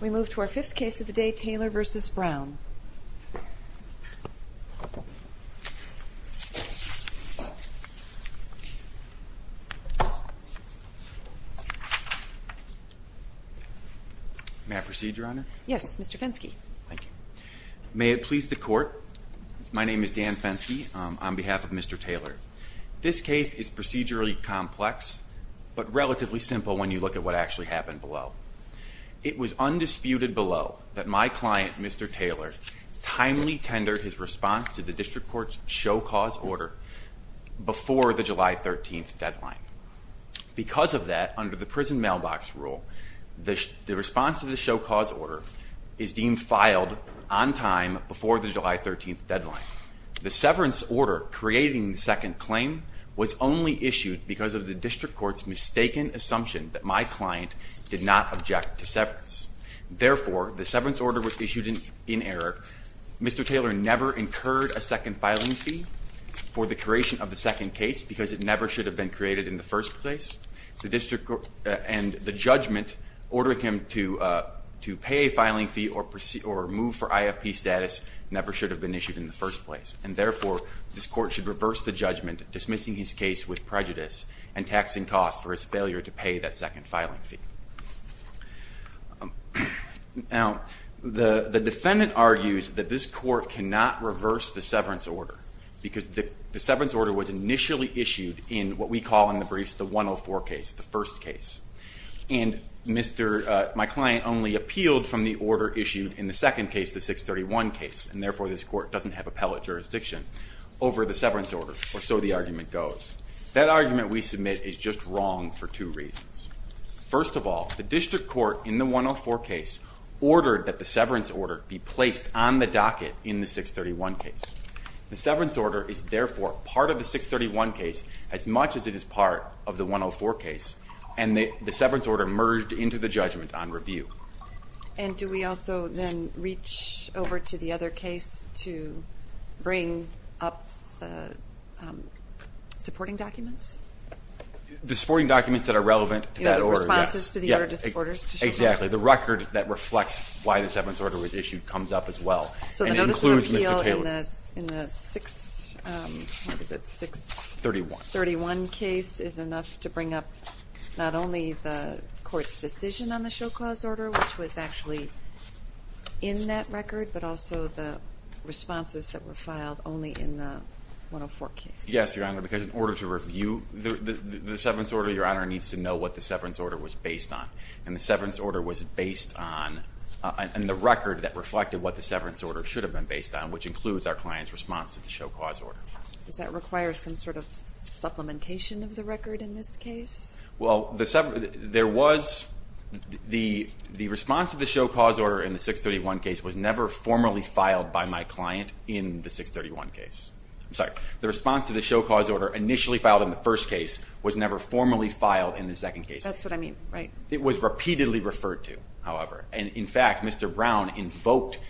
We move to our fifth case of the day, Taylor v. Brown. May I proceed, Your Honor? Yes, Mr. Fenske. Thank you. May it please the Court, my name is Dan Fenske on behalf of Mr. Taylor. This case is procedurally complex but relatively simple when you look at what actually happened below. It was undisputed below that my client, Mr. Taylor, timely tendered his response to the district court's show cause order before the July 13th deadline. Because of that, under the prison mailbox rule, the response to the show cause order is deemed filed on time before the July 13th deadline. The severance order creating the second claim was only issued because of the district court's mistaken assumption that my client did not object to severance. Therefore, the severance order was issued in error. Mr. Taylor never incurred a second filing fee for the creation of the second case because it never should have been created in the first place. The district court and the judgment ordering him to pay a filing fee or move for IFP status never should have been issued in the first place. And therefore, this court dismissed his case with prejudice and taxing costs for his failure to pay that second filing fee. Now, the defendant argues that this court cannot reverse the severance order because the severance order was initially issued in what we call in the briefs the 104 case, the first case. And my client only appealed from the order issued in the second case, the 631 case. And therefore, this court doesn't have appellate jurisdiction over the severance order, or so the argument goes. That argument we submit is just wrong for two reasons. First of all, the district court in the 104 case ordered that the severance order be placed on the docket in the 631 case. The severance order is therefore part of the 631 case as much as it is part of the 104 case. And the severance order merged into the judgment on review. And do we also then reach over to the other case to bring up the supporting documents? The supporting documents that are relevant to that order, yes. You mean the responses to the order to supporters? Exactly. The record that reflects why the severance order was issued comes up as well. And it includes Mr. Taylor. So the notice of appeal in the 631 case is enough to bring up not only the court's decision on the show clause order, which was actually in that record, but also the responses that were filed only in the 104 case. Yes, Your Honor, because in order to review the severance order, Your Honor needs to know what the severance order was based on. And the severance order was based on, and the record that reflected what the severance order should have been based on, which includes our client's response to the show clause order. Does that require some sort of supplementation of the record in this case? Well, the response to the show clause order in the 631 case was never formally filed by my client in the 631 case. I'm sorry, the response to the show clause order initially filed in the first case was never formally filed in the second case. That's what I mean, right. It was repeatedly referred to, however. And in fact, Mr. Brown invoked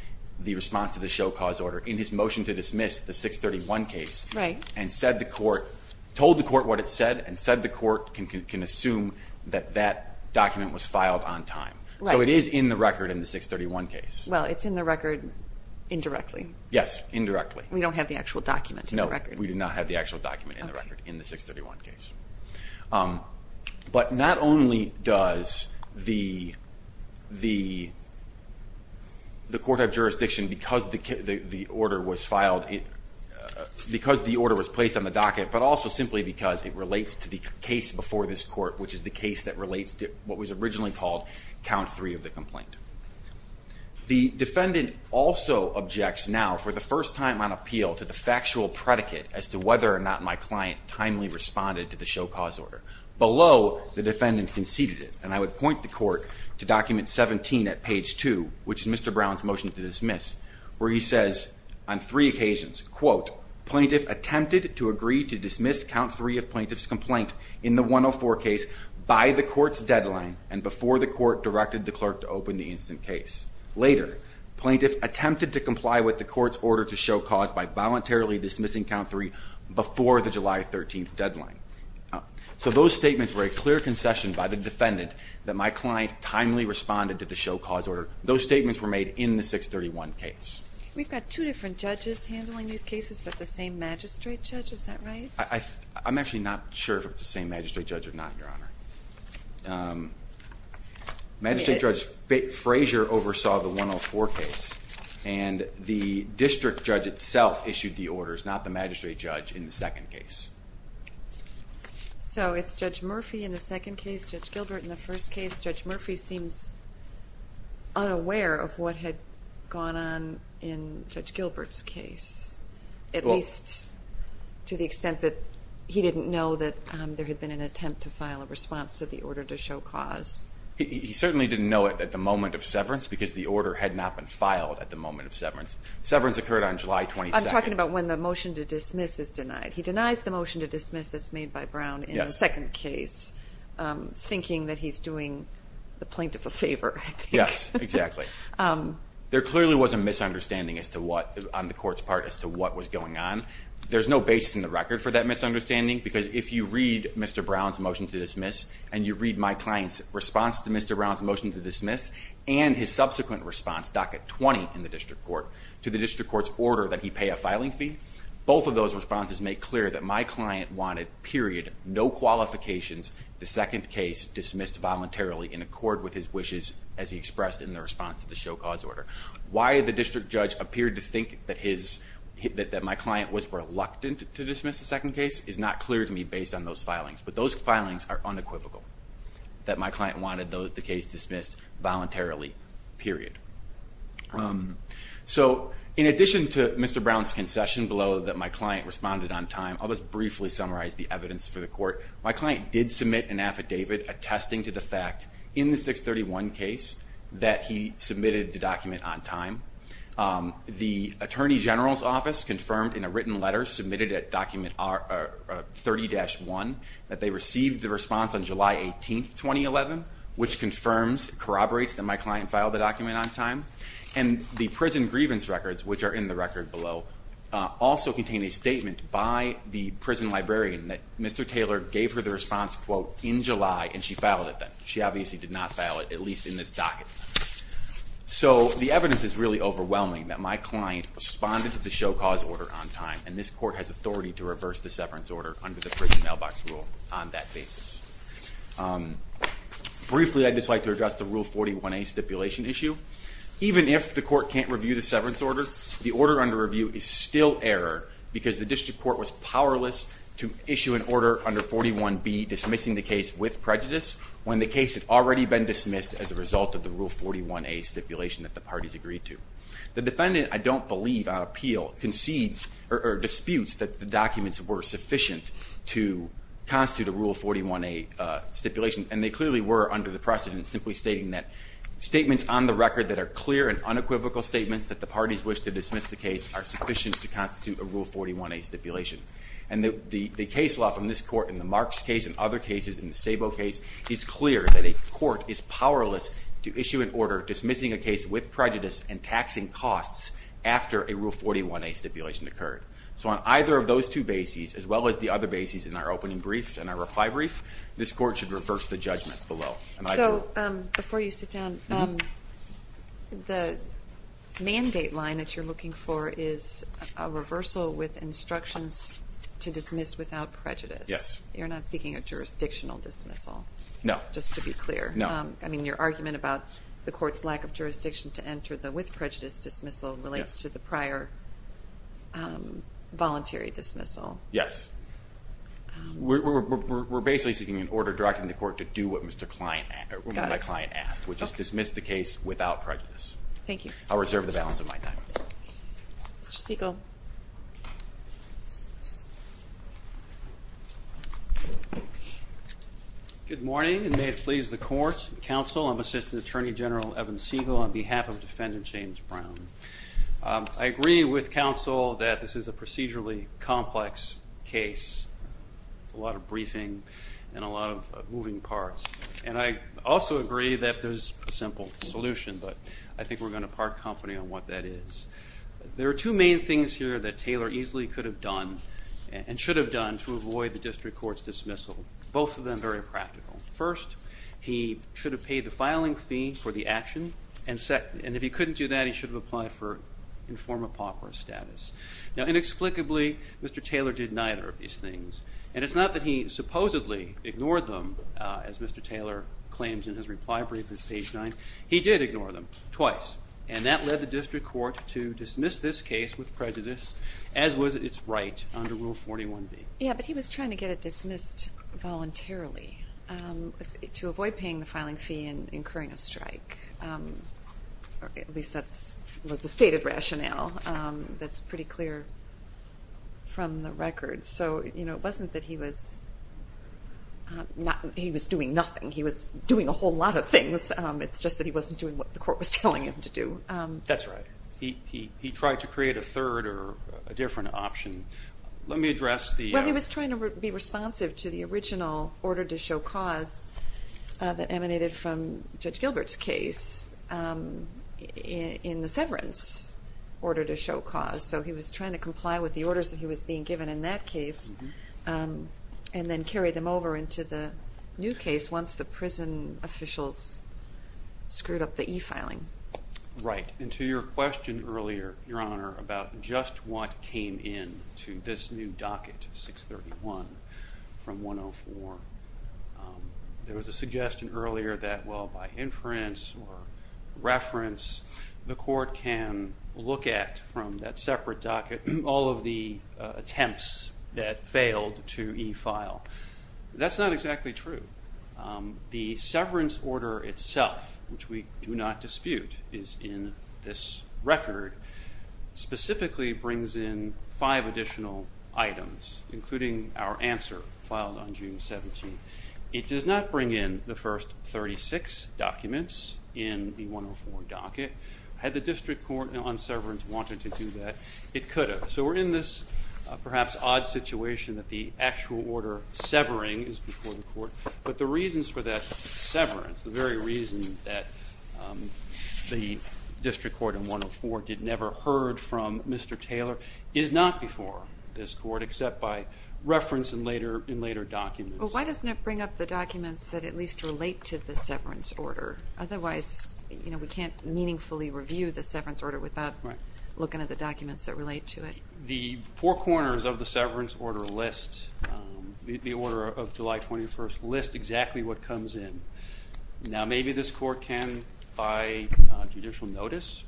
the response to the show clause order in his motion to dismiss the 631 case and told the court what it said and said the court can assume that that document was filed on time. So it is in the record in the 631 case. Well, it's in the record indirectly. Yes, indirectly. We don't have the actual document in the record. No, we do not have the actual document in the record in the 631 case. But not only does the court have jurisdiction because the order was filed, because the order was placed on the docket, but also simply because it relates to the case before this court, which is the case that relates to what was originally called count three of the complaint. The defendant also objects now for the first time on appeal to the factual predicate as to whether or not my client timely responded to the show clause order. Below, the defendant conceded it. And I would point the court to document 17 at page 2, which is Mr. Brown's motion to dismiss, where he says on three occasions, quote, plaintiff attempted to agree to dismiss count three of plaintiff's complaint in the 104 case by the court's deadline and before the court directed the clerk to open the instant case. Later, plaintiff attempted to comply with the court's order to show cause by voluntarily dismissing count three before the July 13th deadline. So those statements were a clear concession by the defendant that my client timely responded to the show cause order. Those different judges handling these cases, but the same magistrate judge, is that right? I I'm actually not sure if it's the same magistrate judge or not, Your Honor. Um, Magistrate Judge Fraser oversaw the 104 case, and the district judge itself issued the orders, not the magistrate judge in the second case. So it's Judge Murphy in the second case. Judge Gilbert in the first case. Judge Gilbert's case, at least to the extent that he didn't know that there had been an attempt to file a response to the order to show cause. He certainly didn't know it at the moment of severance, because the order had not been filed at the moment of severance. Severance occurred on July 22nd. I'm talking about when the motion to dismiss is denied. He denies the motion to dismiss that's made by Brown in the second case, thinking that he's doing the plaintiff a favor. Yes, exactly. Um, there clearly was a misunderstanding as to what on the court's part as to what was going on. There's no basis in the record for that misunderstanding, because if you read Mr Brown's motion to dismiss and you read my client's response to Mr Brown's motion to dismiss and his subsequent response, docket 20 in the district court to the district court's order that he pay a filing fee. Both of those responses make clear that my client wanted period no qualifications. The second case dismissed voluntarily in accord with his wishes, as he expressed in the response to the show cause order. Why the district judge appeared to think that his that my client was reluctant to dismiss. The second case is not clear to me based on those filings, but those filings are unequivocal that my client wanted the case dismissed voluntarily period. Um, so in addition to Mr Brown's concession below that, my client responded on time. I'll just briefly summarize the evidence for the court. My client did submit an affidavit attesting to the fact in the 6 31 case that he submitted the document on time. Um, the attorney general's office confirmed in a written letter submitted a document are 30 dash one that they received the response on July 18th 2011, which confirms corroborates that my client filed the document on time and the prison grievance records, which are in the record below, also contain a statement by the prison librarian that Mr Taylor gave her the quote in July, and she found that she obviously did not fail it, at least in this docket. So the evidence is really overwhelming that my client responded to the show cause order on time, and this court has authority to reverse the severance order under the prison mailbox rule on that basis. Um, briefly, I'd just like to address the rule 41 a stipulation issue. Even if the court can't review the severance order, the order under review is still error because the district court was powerless to issue an order under 41 be dismissing the case with prejudice when the case had already been dismissed as a result of the rule 41 a stipulation that the parties agreed to. The defendant, I don't believe on appeal concedes or disputes that the documents were sufficient to constitute a rule 41 a stipulation, and they clearly were under the precedent, simply stating that statements on the record that are clear and unequivocal statements that the parties wish to dismiss the case are sufficient to constitute a rule 41 a stipulation. And the case law from this court in the Marks case and other cases in the Sabo case is clear that a court is powerless to issue an order dismissing a case with prejudice and taxing costs after a rule 41 a stipulation occurred. So on either of those two bases, as well as the other bases in our opening brief and our reply brief, this court should reverse the judgment below. So, um, before you sit down, the mandate line that you're looking for is a reversal with instructions to dismiss without prejudice. Yes. You're not seeking a jurisdictional dismissal? No. Just to be clear. No. I mean your argument about the court's lack of jurisdiction to enter the with prejudice dismissal relates to the prior voluntary dismissal. Yes. We're basically seeking an order directing the court to do what my client asked, which is dismiss the case without prejudice. Thank you. I'll reserve the balance of my time. Mr. Siegel. Good morning and may it please the court, counsel, I'm Assistant Attorney General Evan Siegel on behalf of Defendant James Brown. I agree with counsel that this is a procedurally complex case. A lot of briefing and a lot of moving parts. And I also agree that there's a simple solution, but I think we're going to park company on what that is. There are two main things here that Taylor easily could have done and should have done to avoid the district court's dismissal. Both of them very practical. First, he should have paid the filing fee for the action. And second, and if he couldn't do that, he should have applied for inform a pauper status. Now inexplicably, Mr. Taylor did neither of them. It's not that he supposedly ignored them, as Mr. Taylor claims in his reply brief at page 9. He did ignore them, twice. And that led the district court to dismiss this case with prejudice, as was its right under Rule 41B. Yeah, but he was trying to get it dismissed voluntarily to avoid paying the filing fee and incurring a strike. At least that was the stated rationale that's pretty clear from the record. So, you know, it wasn't that he was not, he was doing nothing. He was doing a whole lot of things. It's just that he wasn't doing what the court was telling him to do. That's right. He tried to create a third or a different option. Let me address the... Well, he was trying to be responsive to the original order to show cause that emanated from Judge Gilbert's case in the severance order to show cause. So he was trying to comply with the orders that he was being given in that case, and then carry them over into the new case once the prison officials screwed up the e-filing. Right. And to your question earlier, Your Honor, about just what came in to this new docket, 631 from 104, there was a suggestion earlier that, well, by inference or reference, the court would get from that separate docket all of the attempts that failed to e-file. That's not exactly true. The severance order itself, which we do not dispute, is in this record, specifically brings in five additional items, including our answer filed on June 17th. It does not bring in the first 36 documents in the 104 docket. Had the district court on severance wanted to do that, it could have. So we're in this perhaps odd situation that the actual order severing is before the court, but the reasons for that severance, the very reason that the district court in 104 did never heard from Mr. Taylor, is not before this court except by reference in later documents. Well, why doesn't it include documents that at least relate to the severance order? Otherwise, you know, we can't meaningfully review the severance order without looking at the documents that relate to it. The four corners of the severance order list, the order of July 21st, list exactly what comes in. Now maybe this court can, by judicial notice,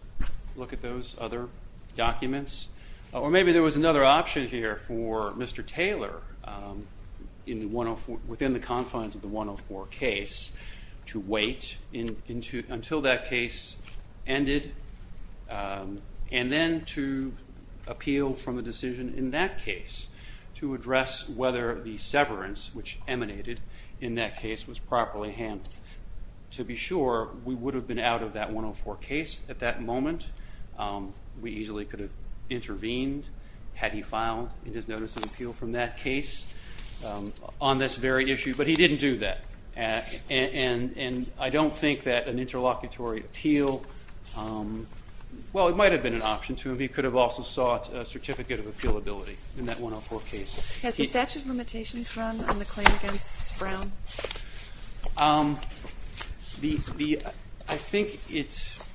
look at those other documents, or maybe there was another option here for Mr. Taylor, within the confines of the 104 case, to wait until that case ended, and then to appeal from a decision in that case to address whether the severance, which emanated in that case, was properly handled. To be sure, we would have been out of that 104 case at that moment. We easily could have in that case, on this very issue, but he didn't do that. And I don't think that an interlocutory appeal, well it might have been an option to him. He could have also sought a certificate of appealability in that 104 case. Has the statute of limitations run on the claim against Brown? I think it's,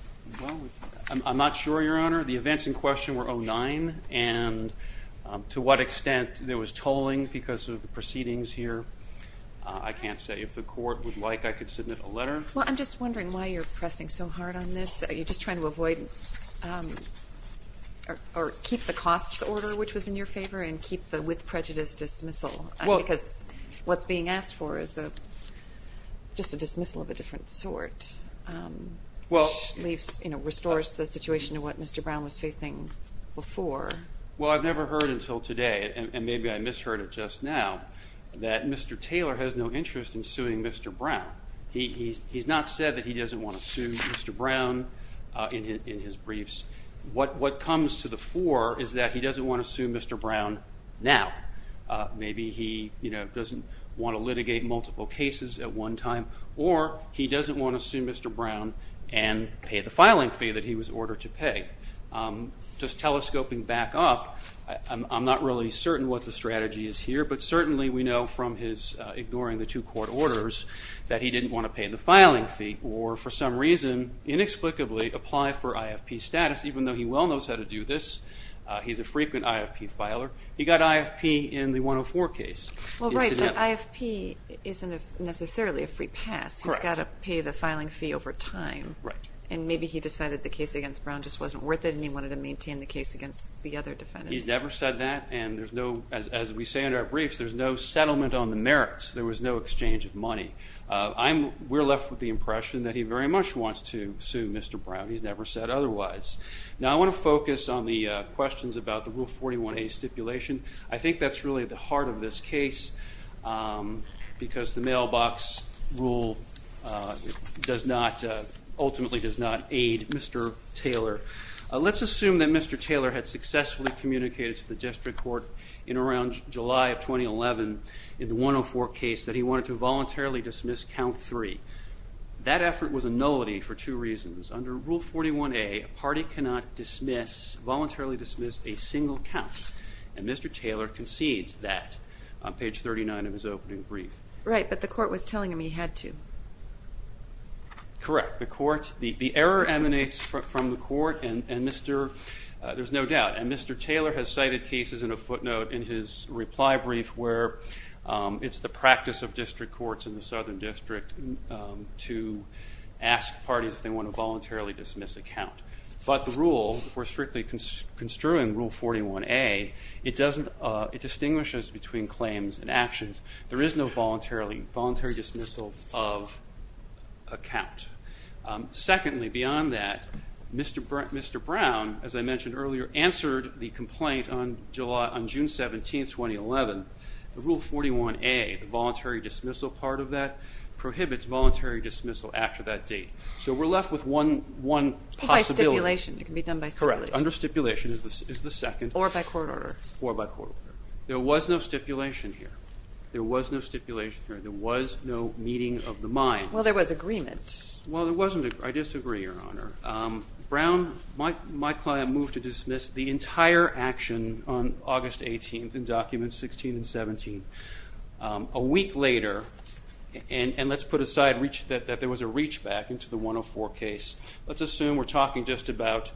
I'm not sure, Your Honor. The events in question were 09, and to what extent there was tolling because of the proceedings here, I can't say. If the court would like, I could submit a letter. Well, I'm just wondering why you're pressing so hard on this? Are you just trying to avoid, or keep the costs order which was in your favor, and keep the with prejudice dismissal? Well, because what's being asked for is a, just a dismissal of a different sort, which leaves, you know, restores the situation to what Mr. Brown was facing before. Well, I've never heard until today, and maybe I misheard it just now, that Mr. Taylor has no interest in suing Mr. Brown. He's not said that he doesn't want to sue Mr. Brown in his briefs. What comes to the fore is that he doesn't want to sue Mr. Brown now. Maybe he, you know, doesn't want to litigate multiple cases at one time, or he doesn't want to sue Mr. Brown and pay the filing fee that he was ordered to pay. Just telescoping back up, I'm not really certain what the strategy is here, but certainly we know from his ignoring the two court orders that he didn't want to pay the filing fee, or for some reason, inexplicably, apply for IFP status, even though he well knows how to do this. He's a frequent IFP filer. He got IFP in the 104 case. Well, right, but IFP isn't necessarily a free pass. He's got to pay the filing fee over time, and maybe he decided the case against Brown just wasn't worth it, and he wanted to maintain the case against the other defendants. He's never said that, and there's no, as we say in our briefs, there's no settlement on the merits. There was no exchange of money. I'm, we're left with the impression that he very much wants to sue Mr. Brown. He's never said otherwise. Now I want to focus on the questions about the Rule 41a stipulation. I think that's really at the heart of this case, because the mailbox rule does not, ultimately does not aid Mr. Taylor. Let's assume that Mr. Taylor had successfully communicated to the district court in around July of 2011 in the 104 case that he wanted to voluntarily dismiss count three. That effort was a nullity for two reasons. Under Rule 41a, a party cannot dismiss, voluntarily dismiss, a single count, and Mr. Taylor concedes that. On page 39 of his opening brief. Right, but the court was telling him he had to. Correct. The court, the error emanates from the court, and Mr., there's no doubt, and Mr. Taylor has cited cases in a footnote in his reply brief where it's the practice of district courts in the Southern District to ask parties if they want to voluntarily dismiss a count. But the rule, we're strictly construing Rule 41a, it doesn't, it distinguishes between claims and actions. There is no voluntarily, voluntary dismissal of a count. Secondly, beyond that, Mr. Brown, as I mentioned earlier, answered the complaint on July, on June 17, 2011. The Rule 41a, the voluntary dismissal part of that, prohibits voluntary dismissal after that date. So we're left with one possibility. By stipulation, it can be done by stipulation. Under stipulation is the second. Or by court order. Or by court order. There was no stipulation here. There was no stipulation here. There was no meeting of the minds. Well, there was agreement. Well, there wasn't. I disagree, Your Honor. Brown, my client moved to dismiss the entire action on August 18th in documents 16 and 17. A week later, and let's put aside that there was a reachback into the 104 case. Let's assume we're talking just about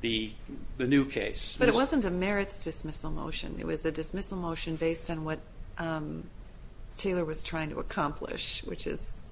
the new case. But it wasn't a merits dismissal motion. It was a dismissal motion based on what Taylor was trying to accomplish, which is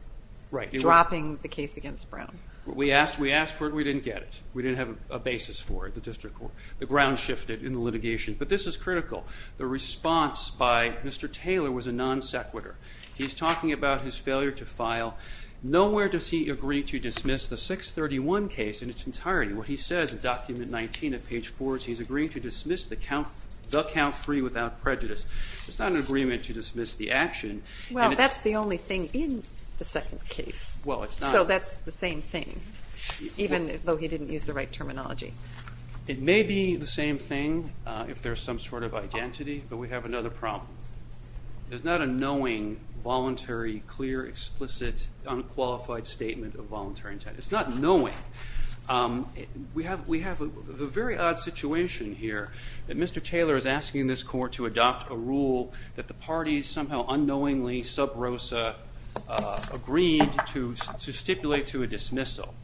dropping the case against Brown. We asked, we asked for it, we didn't get it. We didn't have a basis for it. The district court, the ground shifted in the litigation. But this is critical. The response by Mr. Taylor was a non sequitur. He's talking about his Where does he agree to dismiss the 631 case in its entirety? What he says in document 19 of page 4 is he's agreeing to dismiss the count 3 without prejudice. It's not an agreement to dismiss the action. Well, that's the only thing in the second case. Well, it's not. So that's the same thing, even though he didn't use the right terminology. It may be the same thing if there's some sort of identity, but we have another problem. There's not a knowing, voluntary, clear, explicit, unqualified statement of voluntary intent. It's not knowing. We have, we have a very odd situation here that Mr. Taylor is asking this court to adopt a rule that the parties somehow unknowingly, sub rosa, agreed to stipulate to a dismissal,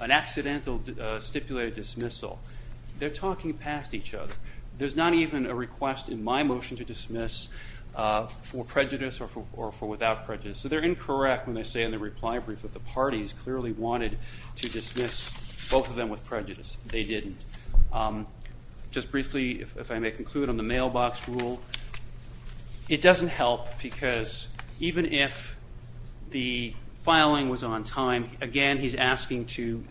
an accidental stipulated dismissal. They're talking past each other. There's not even a request in my motion to dismiss for prejudice. So they're incorrect when they say in the reply brief that the parties clearly wanted to dismiss both of them with prejudice. They didn't. Just briefly, if I may conclude on the mailbox rule, it doesn't help because even if the filing was on time, again, he's asking to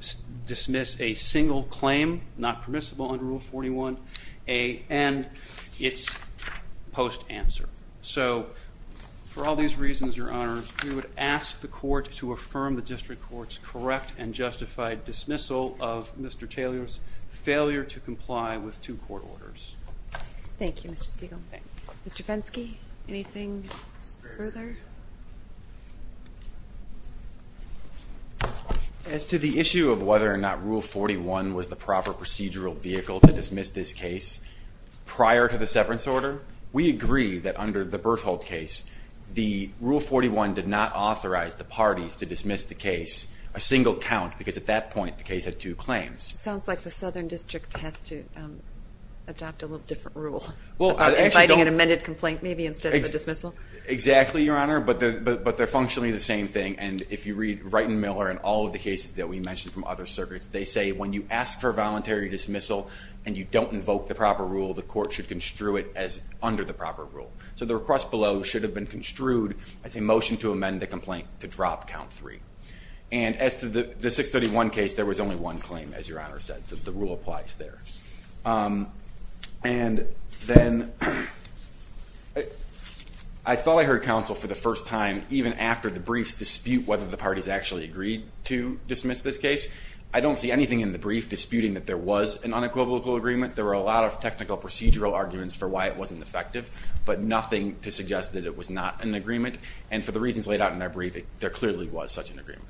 dismiss a single claim, not permissible under Rule 41A, and it's post answer. So for all these reasons, Your Honor, we would ask the court to affirm the district court's correct and justified dismissal of Mr. Taylor's failure to comply with two court orders. Thank you, Mr. Siegel. Mr. Fenske, anything further? As to the issue of whether or not Rule 41 was the proper procedural vehicle to dismiss this case, prior to the severance order, we agree that under the Bertholdt case, the Rule 41 did not authorize the parties to dismiss the case a single count because at that point the case had two claims. It sounds like the Southern District has to adopt a little different rule. Well, inviting an amended complaint maybe instead of a dismissal? Exactly, Your Honor, but they're functionally the same thing, and if you read Wright and Miller and all of the cases that we mentioned from other circuits, they say when you ask for a you don't invoke the proper rule, the court should construe it as under the proper rule. So the request below should have been construed as a motion to amend the complaint to drop count three. And as to the 631 case, there was only one claim, as Your Honor said, so the rule applies there. And then I thought I heard counsel for the first time even after the briefs dispute whether the parties actually agreed to dismiss this case. I don't see anything in the brief disputing that there was an unequivocal agreement. There were a lot of technical procedural arguments for why it wasn't effective, but nothing to suggest that it was not an agreement. And for the reasons laid out in that briefing, there clearly was such an agreement.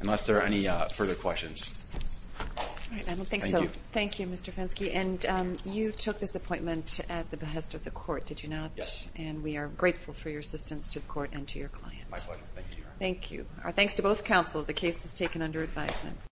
Unless there are any further questions. I don't think so. Thank you, Mr. Fenske. And you took this appointment at the behest of the court, did you not? Yes. And we are grateful for your assistance to the court and to your client. My pleasure. Thank you, Your Honor. Thank you. Our thanks to both counsel. The case is taken under advisement.